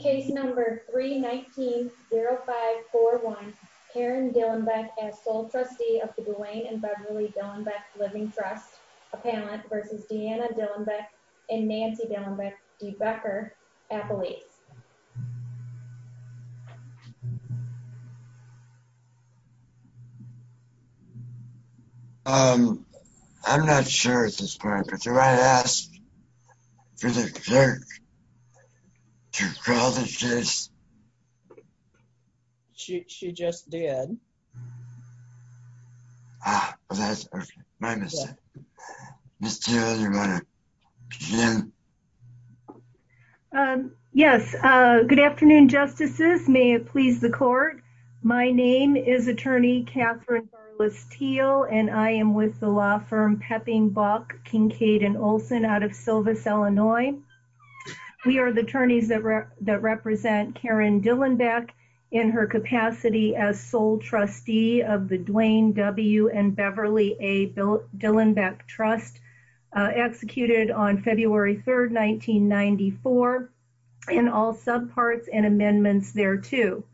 Case number 319-0541, Karen Dilenbeck as sole trustee of the Duane and Beverly Dilenbeck Living Trust Appellant v. Deanna Dilenbeck and Nancy Dilenbeck-DeBecker Appellees. Karen Dilenbeck-DeBecker Appellate Case number 319-0541. Karen Dilenbeck-DeBecker Appellate Case number 319-0541. Yes. Good afternoon, Justices. May it please the Court. My name is Attorney Kathryn Barless-Teal, and I am with the law firm Pepping, Bach, Kincaid & Olson out of Silvis, Illinois. We are the attorneys that represent Karen Dilenbeck in her capacity as sole trustee of the Duane W. & Beverly A. Dilenbeck Trust, executed on February 3, 1994, in all subparts and amendments thereto.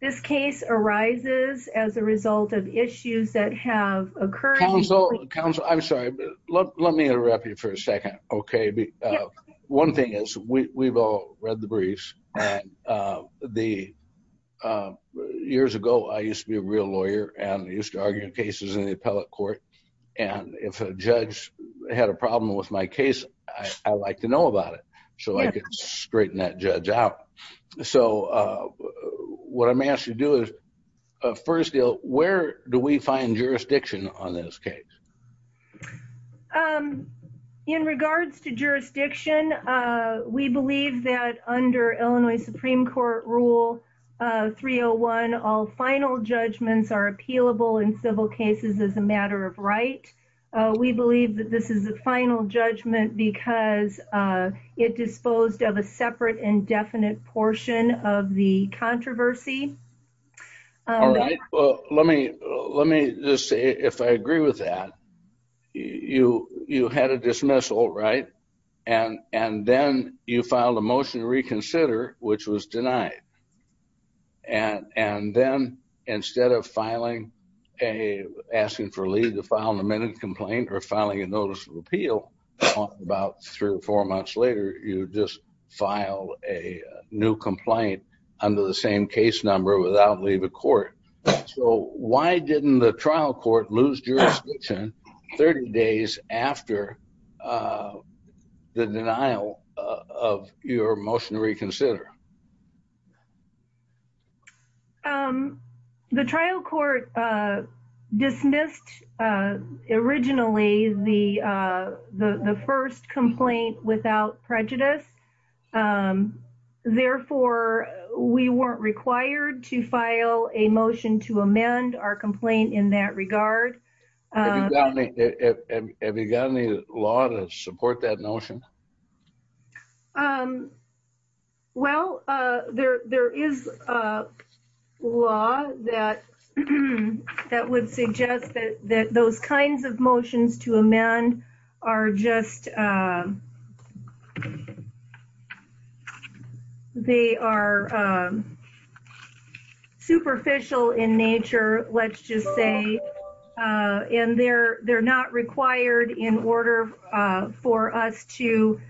This case arises as a result of issues that have occurred... Counsel, Counsel, I'm sorry. Let me interrupt you for a second, okay? One thing is, we've all read the briefs, and years ago, I used to be a real lawyer, and I used to argue cases in the appellate court. And if a judge had a problem with my case, I'd like to know about it, so I could straighten that judge out. So, what I may ask you to do is, first deal, where do we find jurisdiction on this case? In regards to jurisdiction, we believe that under Illinois Supreme Court Rule 301, all final judgments are appealable in civil cases as a matter of right. We believe that this is a final judgment because it disposed of a separate, indefinite portion of the controversy. All right, well, let me just say, if I agree with that, you had a dismissal, right? And then you filed a motion to reconsider, which was denied. And then, instead of asking for Lee to file an amended complaint or filing a notice of appeal about three or four months later, you just filed a new complaint under the same case number without Lee the court. So, why didn't the trial court lose jurisdiction 30 days after the denial of your motion to reconsider? The trial court dismissed, originally, the first complaint without prejudice. Therefore, we weren't required to file a motion to amend our complaint in that regard. Have you got any law to support that notion? Well, there is a law that would suggest that those kinds of motions to amend are just superficial in nature, let's just say. And they're not required in order for us to...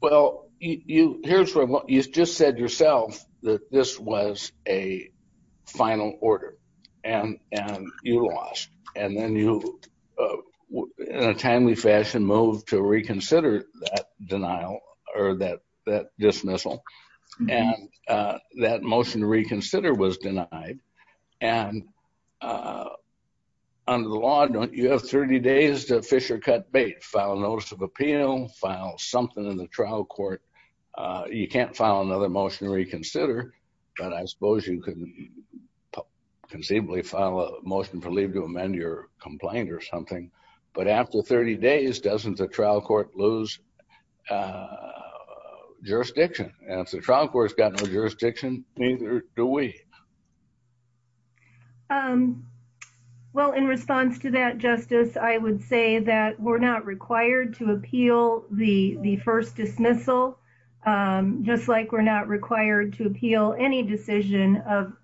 Well, you just said yourself that this was a final order and you lost. And then you, in a timely fashion, moved to reconsider that denial or that dismissal. And that motion to reconsider was denied. And under the law, you have 30 days to fish or cut bait, file a notice of appeal, file something in the trial court. You can't file another motion to reconsider, but I suppose you could conceivably file a motion for Lee to amend your complaint or something. But after 30 days, doesn't the trial court lose jurisdiction? And if the trial court's got no jurisdiction, neither do we. Well, in response to that, Justice, I would say that we're not required to appeal the first dismissal, just like we're not required to appeal any decision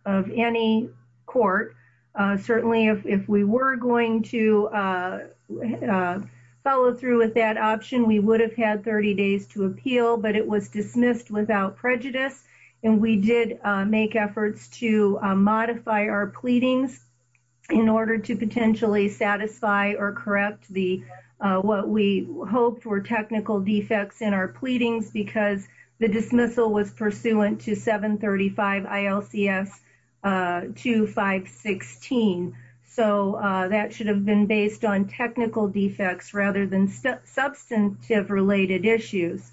of any court. Certainly, if we were going to follow through with that option, we would have had 30 days to appeal, but it was dismissed without prejudice. And we did make efforts to modify our pleadings in order to potentially satisfy or correct what we hoped were technical defects in our pleadings, because the dismissal was pursuant to 735 ILCS 2516. So that should have been based on technical defects rather than substantive related issues.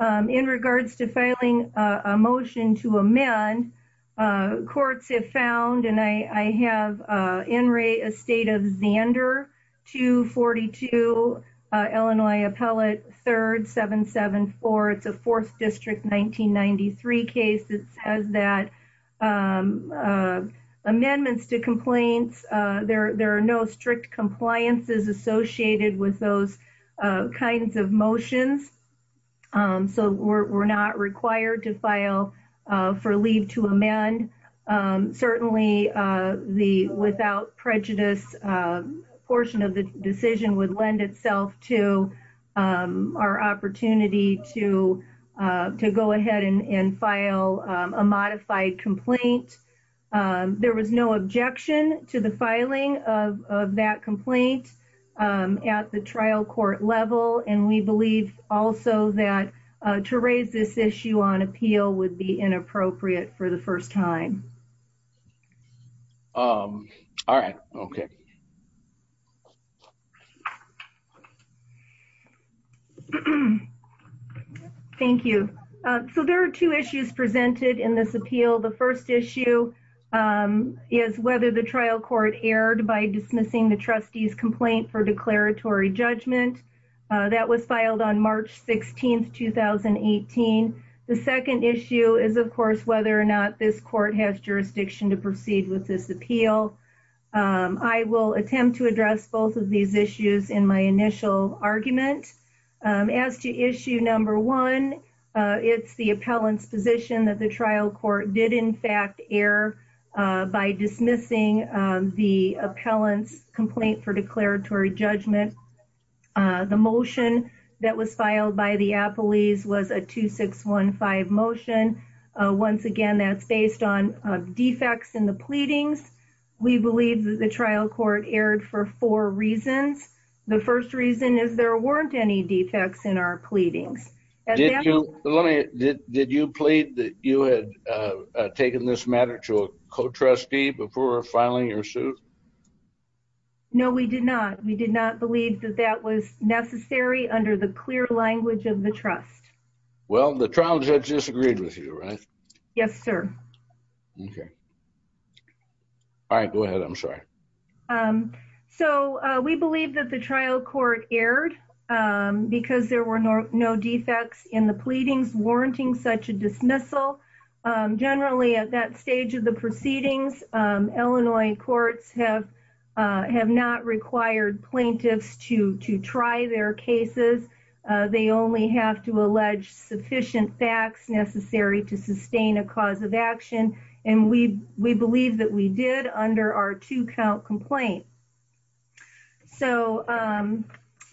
In regards to filing a motion to amend, courts have found, and I have Enray Estate of Zander 242, Illinois Appellate 3rd 774. It's a 4th District 1993 case that says that amendments to complaints, there are no strict compliances associated with those kinds of motions. So we're not required to file for leave to amend. Certainly, the without prejudice portion of the decision would lend itself to our opportunity to go ahead and file a modified complaint. There was no objection to the filing of that complaint at the trial court level. And we believe also that to raise this issue on appeal would be inappropriate for the first time. All right. Okay. Thank you. So there are two issues presented in this appeal. The first issue is whether the trial court erred by dismissing the trustee's complaint for declaratory judgment. That was filed on March 16th, 2018. The second issue is, of course, whether or not this court has jurisdiction to proceed with this appeal. I will attempt to address both of these issues in my initial argument. As to issue number one, it's the appellant's position that the trial court did, in fact, err by dismissing the appellant's complaint for declaratory judgment. The motion that was filed by the appellees was a 2615 motion. Once again, that's based on defects in the pleadings. We believe that the trial court erred for four reasons. The first reason is there weren't any defects in our pleadings. Did you plead that you had taken this matter to a co-trustee before filing your suit? No, we did not. We did not believe that that was necessary under the clear language of the trust. Well, the trial judge disagreed with you, right? Yes, sir. Okay. All right. Go ahead. I'm sorry. We believe that the trial court erred because there were no defects in the pleadings warranting such a dismissal. Generally, at that stage of the proceedings, Illinois courts have not required plaintiffs to try their cases. They only have to allege sufficient facts necessary to sustain a cause of action. And we believe that we did under our two count complaint. So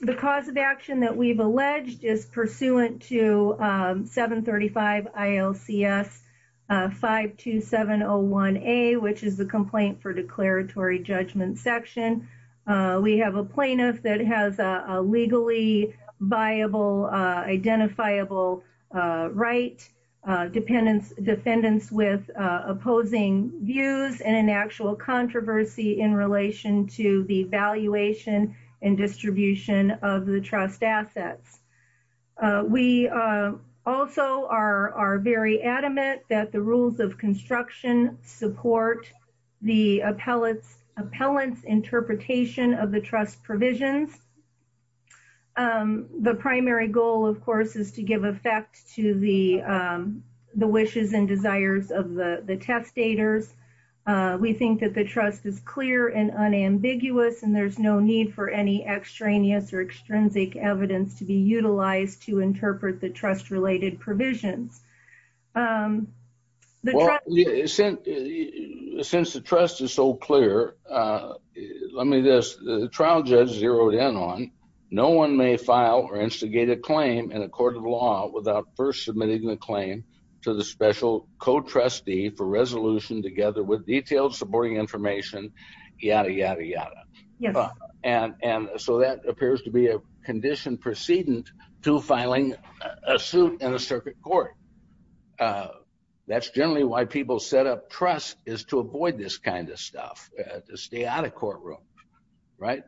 the cause of action that we've alleged is pursuant to 735 ILCS 52701A, which is the complaint for declaratory judgment section. We have a plaintiff that has a legally viable, identifiable right, defendants with opposing views, and an actual controversy in relation to the valuation and distribution of the trust assets. We also are very adamant that the rules of construction support the appellant's interpretation of the trust provisions. The primary goal, of course, is to give effect to the wishes and desires of the testators. We think that the trust is clear and unambiguous, and there's no need for any extraneous or extrinsic evidence to be utilized to interpret the trust-related provisions. Well, since the trust is so clear, let me do this. The trial judge zeroed in on, no one may file or instigate a claim in a court of law without first submitting the claim to the special co-trustee for resolution together with detailed supporting information, yada, yada, yada. And so that appears to be a condition precedent to filing a suit in a circuit court. That's generally why people set up trust, is to avoid this kind of stuff, to stay out of courtroom, right?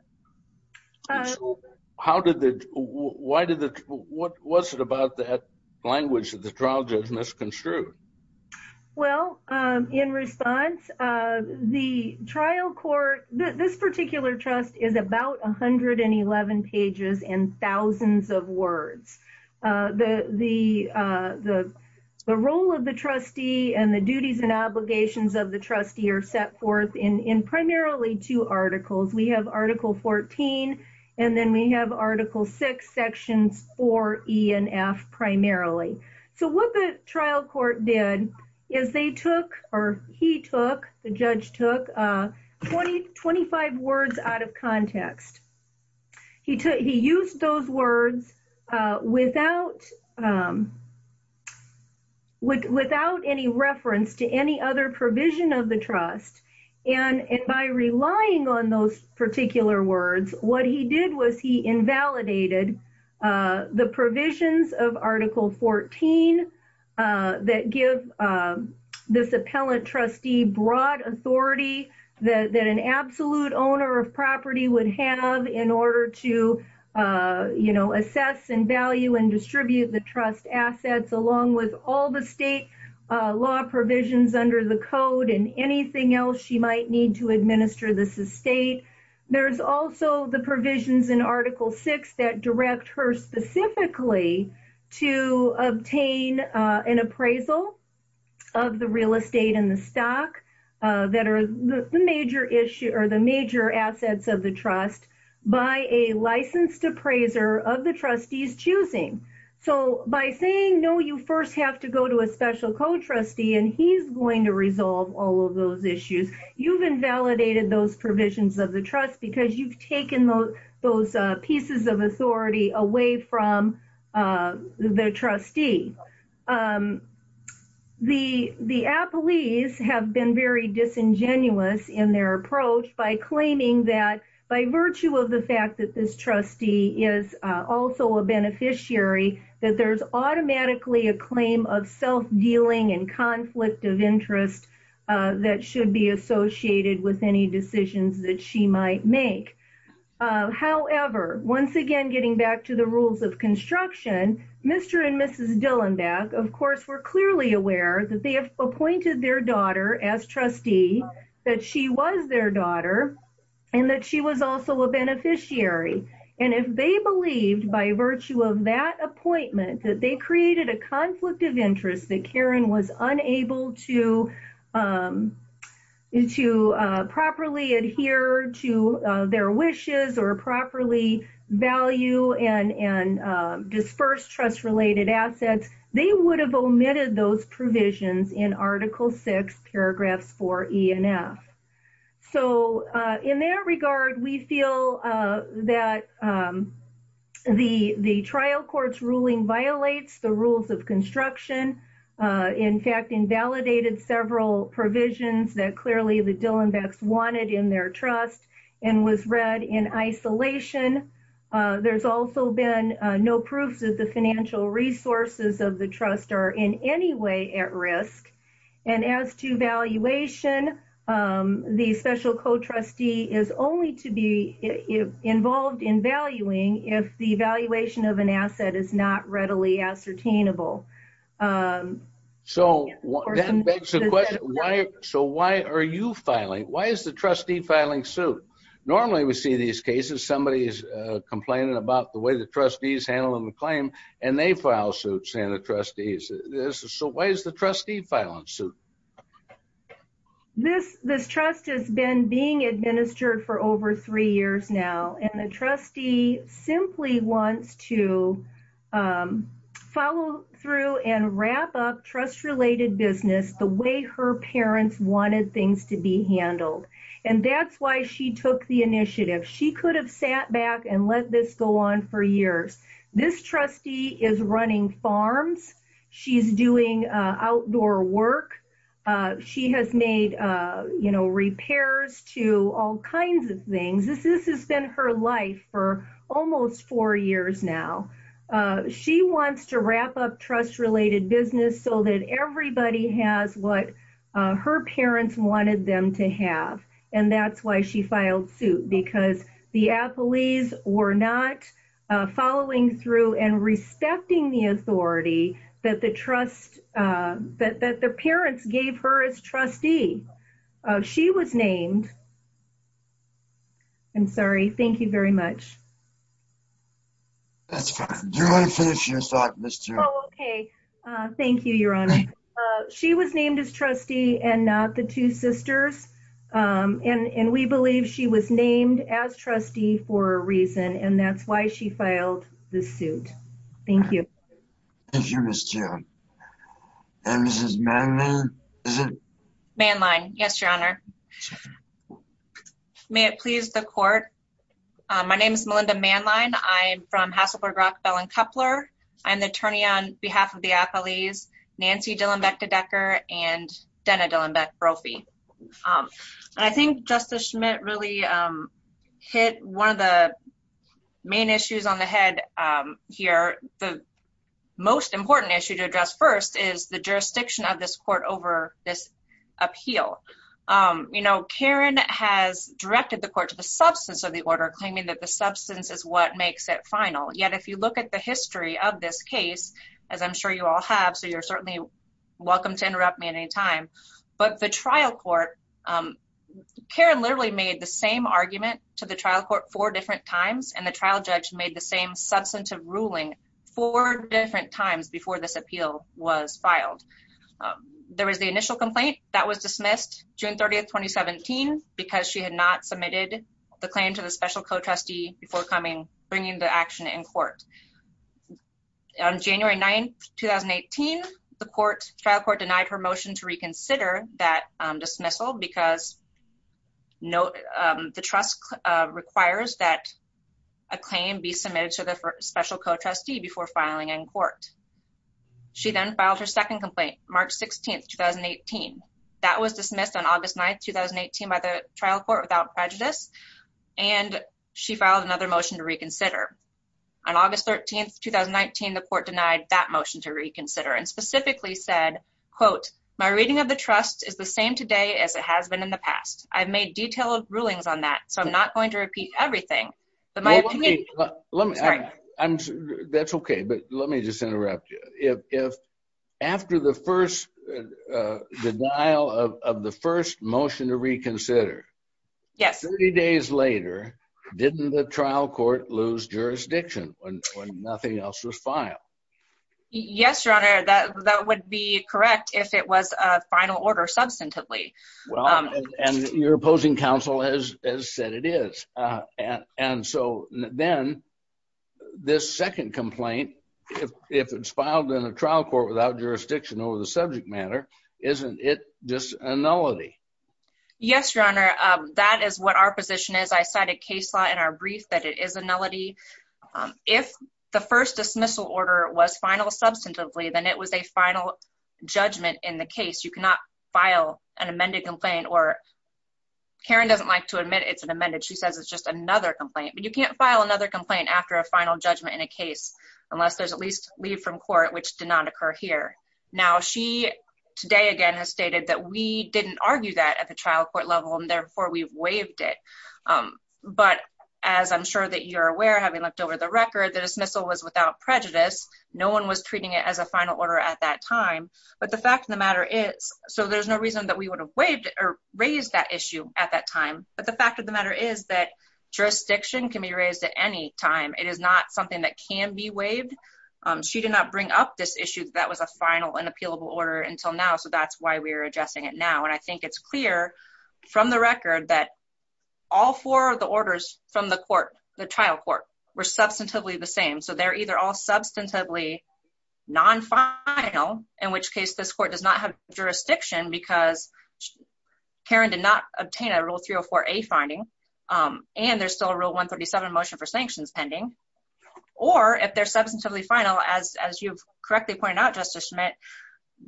How did the, why did the, what was it about that language that the trial judge misconstrued? Well, in response, the trial court, this particular trust is about 111 pages and thousands of words. The role of the trustee and the duties and obligations of the trustee are set forth in primarily two articles. We have Article 14, and then we have Article 6, Sections 4E and F, primarily. So what the trial court did is they took, or he took, the judge took 20, 25 words out of context. He used those words without any reference to any other provision of the trust. And by relying on those particular words, what he did was he invalidated the provisions of Article 14 that give this appellant trustee broad authority that an absolute owner of property would have in order to, you know, assess and value and distribute the trust assets, along with all the state law provisions under the code and anything else. She might need to administer this estate. There's also the provisions in Article 6 that direct her specifically to obtain an appraisal of the real estate and the stock that are the major issue or the major assets of the trust by a licensed appraiser of the trustees choosing. So by saying no, you first have to go to a special co-trustee and he's going to resolve all of those issues. You've invalidated those provisions of the trust because you've taken those pieces of authority away from the trustee. The appellees have been very disingenuous in their approach by claiming that by virtue of the fact that this trustee is also a beneficiary, that there's automatically a claim of self-dealing and conflict of interest that should be associated with any decisions that she might make. However, once again, getting back to the rules of construction, Mr. and Mrs. Dillenbach, of course, were clearly aware that they have appointed their daughter as trustee, that she was their daughter, and that she was also a beneficiary. And if they believed by virtue of that appointment that they created a conflict of interest, that Karen was unable to properly adhere to their wishes or properly value and disperse trust-related assets, they would have omitted those provisions in Article 6, paragraphs 4E and F. So in that regard, we feel that the trial court's ruling violates the rules of construction, in fact, invalidated several provisions that clearly the Dillenbachs wanted in their trust and was read in isolation. There's also been no proof that the financial resources of the trust are in any way at risk. And as to valuation, the special co-trustee is only to be involved in valuing if the valuation of an asset is not readily ascertainable. So that begs the question, so why are you filing? Why is the trustee filing suit? Normally we see these cases, somebody is complaining about the way the trustees handle the claim, and they file suits and the trustees. So why is the trustee filing suit? This trust has been being administered for over three years now, and the trustee simply wants to follow through and wrap up trust-related business the way her parents wanted things to be handled. And that's why she took the initiative. She could have sat back and let this go on for years. This trustee is running farms. She's doing outdoor work. She has made, you know, repairs to all kinds of things. This has been her life for almost four years now. She wants to wrap up trust-related business so that everybody has what her parents wanted them to have. And that's why she filed suit, because the appellees were not following through and respecting the authority that the parents gave her as trustee. She was named. I'm sorry, thank you very much. Do you want to finish your thoughts, Ms. Tillman? Oh, okay. Thank you, Your Honor. She was named as trustee and not the two sisters, and we believe she was named as trustee for a reason, and that's why she filed the suit. Thank you. Thank you, Ms. Tillman. And Mrs. Manline, is it? Manline, yes, Your Honor. May it please the court. My name is Melinda Manline. I'm from Hasselberg, Rockville, and Coupler. I'm the attorney on behalf of the appellees Nancy Dillenbeck-Dedecker and Denna Dillenbeck-Brophy. And I think Justice Schmidt really hit one of the main issues on the head here. The most important issue to address first is the jurisdiction of this court over this appeal. You know, Karen has directed the court to the substance of the order, claiming that the substance is what makes it final. Yet, if you look at the history of this case, as I'm sure you all have, so you're certainly welcome to interrupt me at any time. But the trial court, Karen literally made the same argument to the trial court four different times, and the trial judge made the same substantive ruling four different times before this appeal was filed. There was the initial complaint that was dismissed June 30, 2017, because she had not submitted the claim to the special co-trustee before bringing the action in court. On January 9, 2018, the trial court denied her motion to reconsider that dismissal because the trust requires that a claim be submitted to the special co-trustee before filing in court. She then filed her second complaint, March 16, 2018. That was dismissed on August 9, 2018, by the trial court without prejudice, and she filed another motion to reconsider. On August 13, 2019, the court denied that motion to reconsider and specifically said, quote, my reading of the trust is the same today as it has been in the past. I've made detailed rulings on that, so I'm not going to repeat everything. That's okay, but let me just interrupt you. After the denial of the first motion to reconsider, 30 days later, didn't the trial court lose jurisdiction when nothing else was filed? Yes, Your Honor, that would be correct if it was a final order substantively. Well, and your opposing counsel has said it is, and so then this second complaint, if it's filed in a trial court without jurisdiction over the subject matter, isn't it just a nullity? Yes, Your Honor, that is what our position is. I cited case law in our brief that it is a nullity. If the first dismissal order was final substantively, then it was a final judgment in the case. You cannot file an amended complaint, or Karen doesn't like to admit it's an amended. She says it's just another complaint, but you can't file another complaint after a final judgment in a case unless there's at least leave from court, which did not occur here. Now, she today again has stated that we didn't argue that at the trial court level, and therefore we've waived it, but as I'm sure that you're aware, having looked over the record, the dismissal was without prejudice. No one was treating it as a final order at that time, but the fact of the matter is, so there's no reason that we would have waived or raised that issue at that time, but the fact of the matter is that jurisdiction can be raised at any time. It is not something that can be waived. She did not bring up this issue that was a final and appealable order until now, so that's why we're addressing it now, and I think it's clear from the record that all four of the orders from the court, the trial court, were substantively the same, so they're either all substantively non-final, in which case this court does not have jurisdiction because Karen did not obtain a Rule 304A finding, and there's still a Rule 137 motion for sanctions pending. Or, if they're substantively final, as you've correctly pointed out, Justice Schmitt,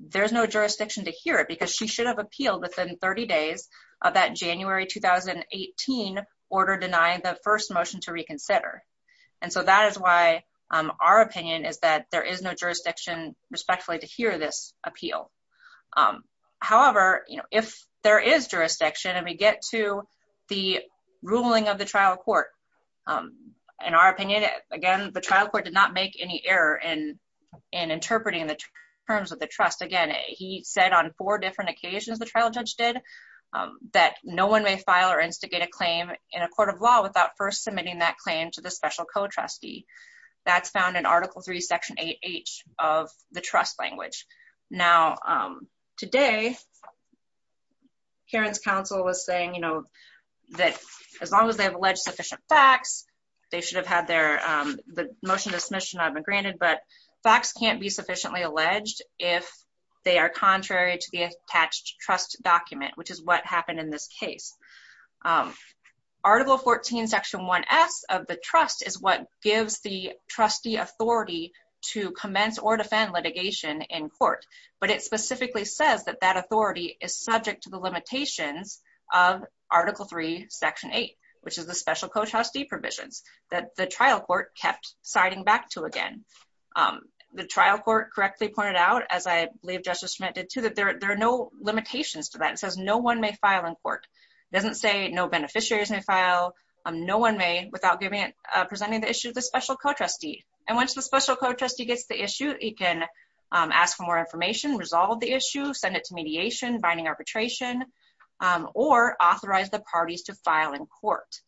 there's no jurisdiction to hear it because she should have appealed within 30 days of that January 2018 order denying the first motion to reconsider, and so that is why our opinion is that there is no jurisdiction, respectfully, to hear this appeal. However, if there is jurisdiction and we get to the ruling of the trial court, in our opinion, again, the trial court did not make any error in interpreting the terms of the trust. Again, he said on four different occasions, the trial judge did, that no one may file or instigate a claim in a court of law without first submitting that claim to the special co-trustee. That's found in Article 3, Section 8H of the trust language. Now, today, Karen's counsel was saying, you know, that as long as they have alleged sufficient facts, they should have had their, the motion of submission not even granted, but facts can't be sufficiently alleged if they are contrary to the attached trust document, which is what happened in this case. Article 14, Section 1S of the trust is what gives the trustee authority to commence or defend litigation in court, but it specifically says that that authority is subject to the limitations of Article 3, Section 8, which is the special co-trustee provisions that the trial court kept citing back to again. The trial court correctly pointed out, as I believe Justice Schmidt did too, that there are no limitations to that. It says no one may file in court. It doesn't say no beneficiaries may file. No one may without presenting the issue to the special co-trustee. And once the special co-trustee gets the issue, it can ask for more information, resolve the issue, send it to mediation, binding arbitration, or authorize the parties to file in court.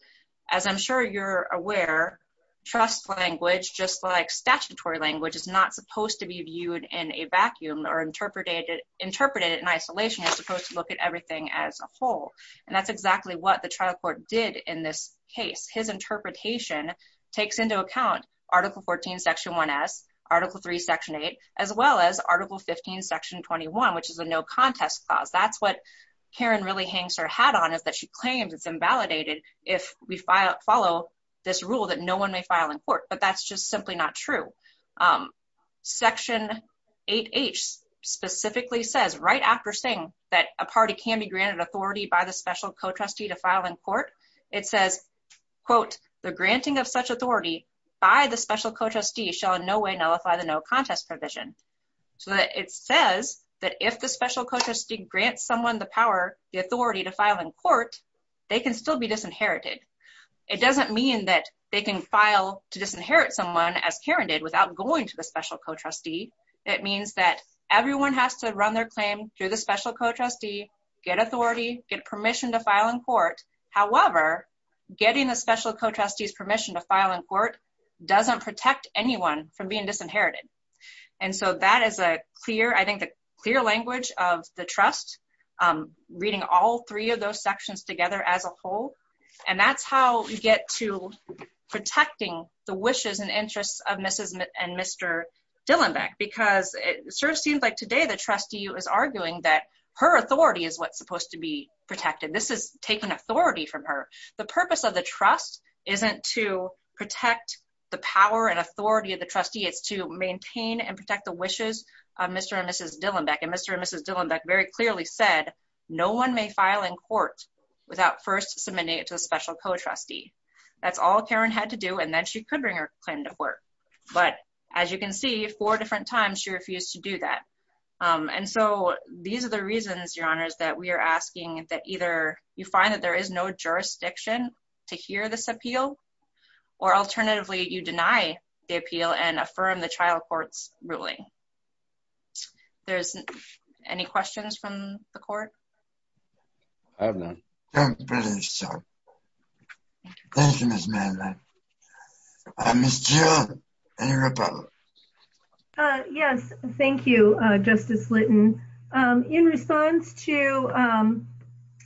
As I'm sure you're aware, trust language, just like statutory language, is not supposed to be viewed in a vacuum or interpreted in isolation. It's supposed to look at everything as a whole. And that's exactly what the trial court did in this case. His interpretation takes into account Article 14, Section 1S, Article 3, Section 8, as well as Article 15, Section 21, which is a no contest clause. That's what Karen really hangs her hat on is that she claims it's invalidated if we follow this rule that no one may file in court, but that's just simply not true. Section 8H specifically says, right after saying that a party can be granted authority by the special co-trustee to file in court, it says, quote, the granting of such authority by the special co-trustee shall in no way nullify the no contest provision. So it says that if the special co-trustee grants someone the power, the authority to file in court, they can still be disinherited. It doesn't mean that they can file to disinherit someone, as Karen did, without going to the special co-trustee. It means that everyone has to run their claim through the special co-trustee, get authority, get permission to file in court. However, getting the special co-trustee's permission to file in court doesn't protect anyone from being disinherited. And so that is a clear, I think the clear language of the trust, reading all three of those sections together as a whole. And that's how we get to protecting the wishes and interests of Mrs. and Mr. Dillenbeck, because it sort of seems like today the trustee is arguing that her authority is what's supposed to be protected. This is taking authority from her. The purpose of the trust isn't to protect the power and authority of the trustee. It's to maintain and protect the wishes of Mr. and Mrs. Dillenbeck. And Mr. and Mrs. Dillenbeck very clearly said, no one may file in court without first submitting it to a special co-trustee. That's all Karen had to do. And then she could bring her claim to court. But as you can see, four different times, she refused to do that. And so these are the reasons, your honors, that we are asking that either you find that there is no jurisdiction to hear this appeal, or alternatively, you deny the appeal and affirm the trial court's ruling. There's any questions from the court? I don't know. I don't believe so. Thank you, Ms. Manley. Ms. Dillenbeck, any rebuttal? Yes, thank you, Justice Litton. In response to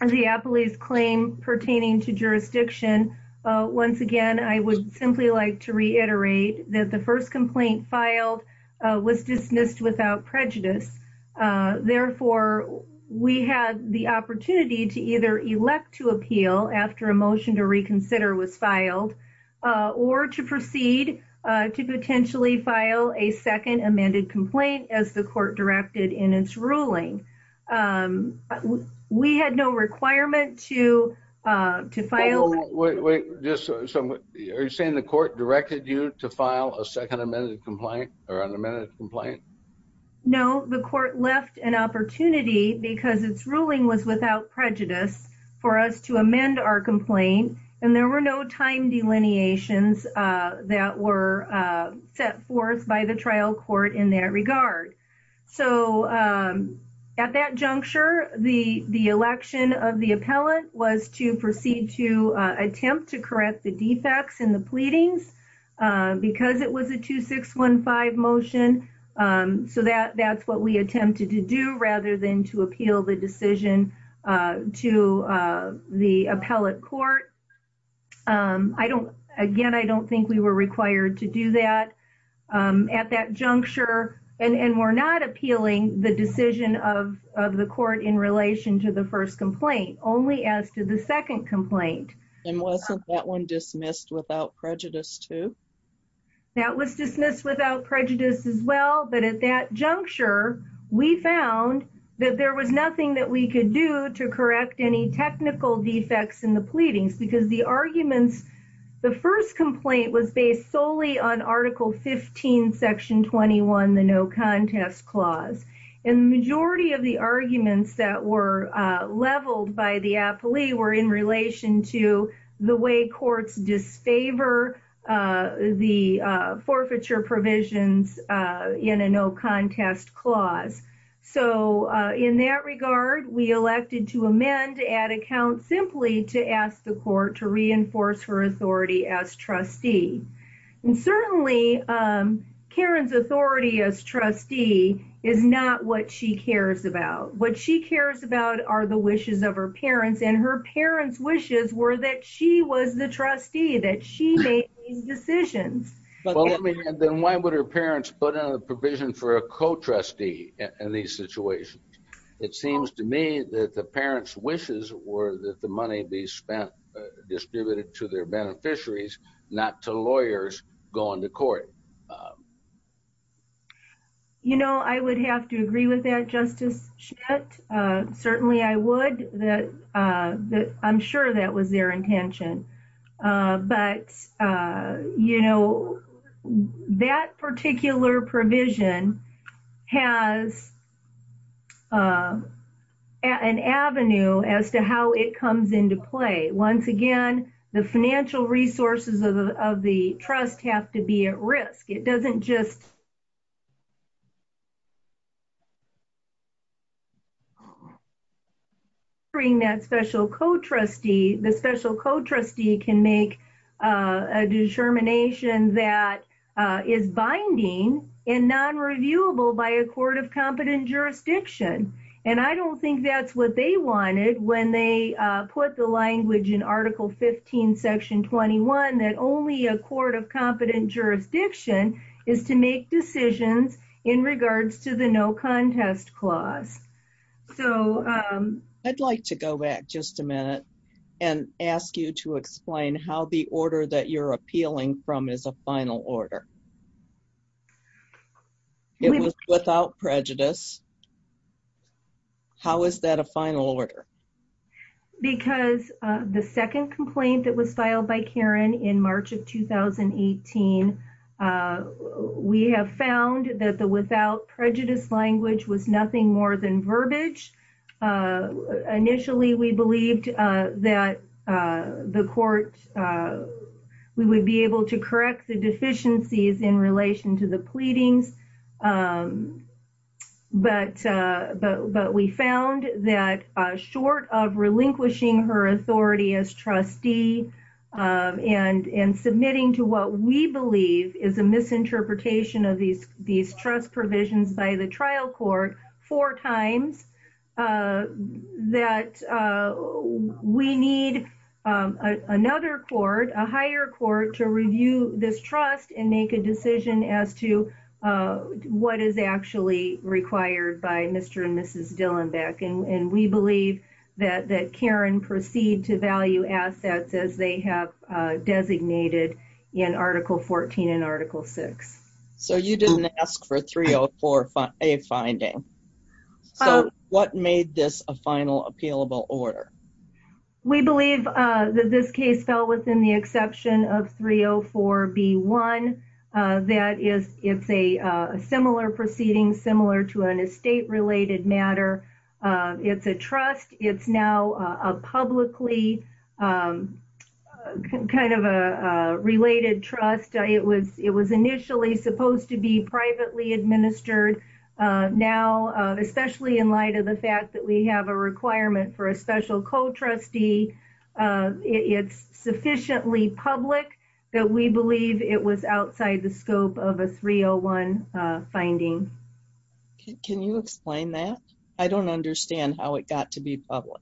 the police claim pertaining to jurisdiction, once again, I would simply like to reiterate that the first complaint filed was dismissed without prejudice. Therefore, we had the opportunity to either elect to appeal after a motion to reconsider was filed, or to proceed to potentially file a second amended complaint as the court directed in its ruling. We had no requirement to file... Wait, wait, wait. Are you saying the court directed you to file a second amended complaint or unamended complaint? No, the court left an opportunity because its ruling was without prejudice for us to amend our complaint, and there were no time delineations that were set forth by the trial court in that regard. So at that juncture, the election of the appellant was to proceed to attempt to correct the defects in the pleadings because it was a 2615 motion. So that's what we attempted to do rather than to appeal the decision to the appellate court. Again, I don't think we were required to do that at that juncture, and we're not appealing the decision of the court in relation to the first complaint, only as to the second complaint. And wasn't that one dismissed without prejudice too? That was dismissed without prejudice as well, but at that juncture, we found that there was nothing that we could do to correct any technical defects in the pleadings because the arguments... Section 21, the no contest clause. And the majority of the arguments that were leveled by the appellee were in relation to the way courts disfavor the forfeiture provisions in a no contest clause. So in that regard, we elected to amend to add a count simply to ask the court to reinforce her authority as trustee. And certainly, Karen's authority as trustee is not what she cares about. What she cares about are the wishes of her parents, and her parents' wishes were that she was the trustee, that she made these decisions. Then why would her parents put in a provision for a co-trustee in these situations? It seems to me that the parents' wishes were that the money be spent, distributed to their beneficiaries, not to lawyers going to court. You know, I would have to agree with that, Justice Schmidt. Certainly, I would. I'm sure that was their intention. But, you know, that particular provision has an avenue as to how it comes into play. Once again, the financial resources of the trust have to be at risk. It doesn't just bring that special co-trustee. The special co-trustee can make a determination that is binding and non-reviewable by a court of competent jurisdiction. And I don't think that's what they wanted when they put the language in Article 15, Section 21, that only a court of competent jurisdiction is to make decisions in regards to the no contest clause. I'd like to go back just a minute and ask you to explain how the order that you're appealing from is a final order. It was without prejudice. How is that a final order? Because the second complaint that was filed by Karen in March of 2018, we have found that the without prejudice language was nothing more than verbiage. Initially, we believed that the court would be able to correct the deficiencies in relation to the pleadings. But we found that short of relinquishing her authority as trustee and submitting to what we believe is a misinterpretation of these trust provisions by the trial court four times, that we need another court, a higher court, to review this trust and make a decision as to what is actually required by Mr. and Mrs. Dillenbeck. And we believe that Karen proceed to value assets as they have designated in Article 14 and Article 6. So you didn't ask for 304A finding. So what made this a final appealable order? We believe that this case fell within the exception of 304B1. That is, it's a similar proceeding, similar to an estate related matter. It's a trust. It's now a publicly kind of a related trust. It was initially supposed to be privately administered. Now, especially in light of the fact that we have a requirement for a special co-trustee, it's sufficiently public that we believe it was outside the scope of a 301 finding. Can you explain that? I don't understand how it got to be public.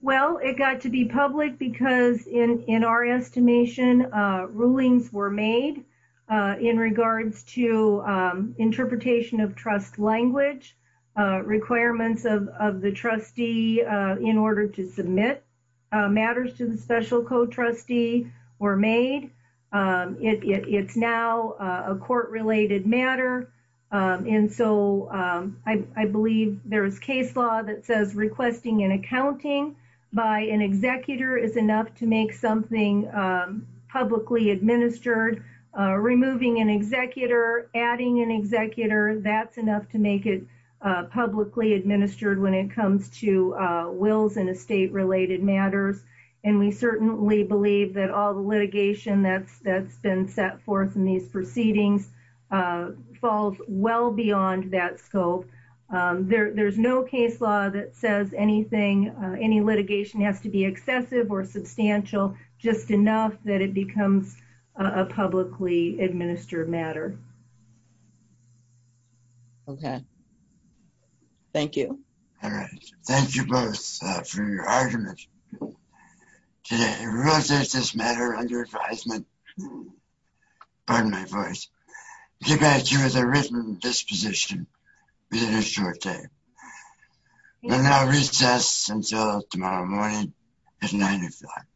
Well, it got to be public because in our estimation, rulings were made in regards to interpretation of trust language, requirements of the trustee in order to submit matters to the special co-trustee were made. It's now a court related matter. And so I believe there is case law that says requesting an accounting by an executor is enough to make something publicly administered. Removing an executor, adding an executor, that's enough to make it publicly administered when it comes to wills and estate related matters. And we certainly believe that all the litigation that's been set forth in these proceedings falls well beyond that scope. There's no case law that says anything, any litigation has to be excessive or substantial, just enough that it becomes a publicly administered matter. Okay. Thank you. All right. Thank you both for your arguments today. We will close this matter under advisement. Pardon my voice. You guys, you have a written disposition within a short time. We'll now recess until tomorrow morning at 9 o'clock.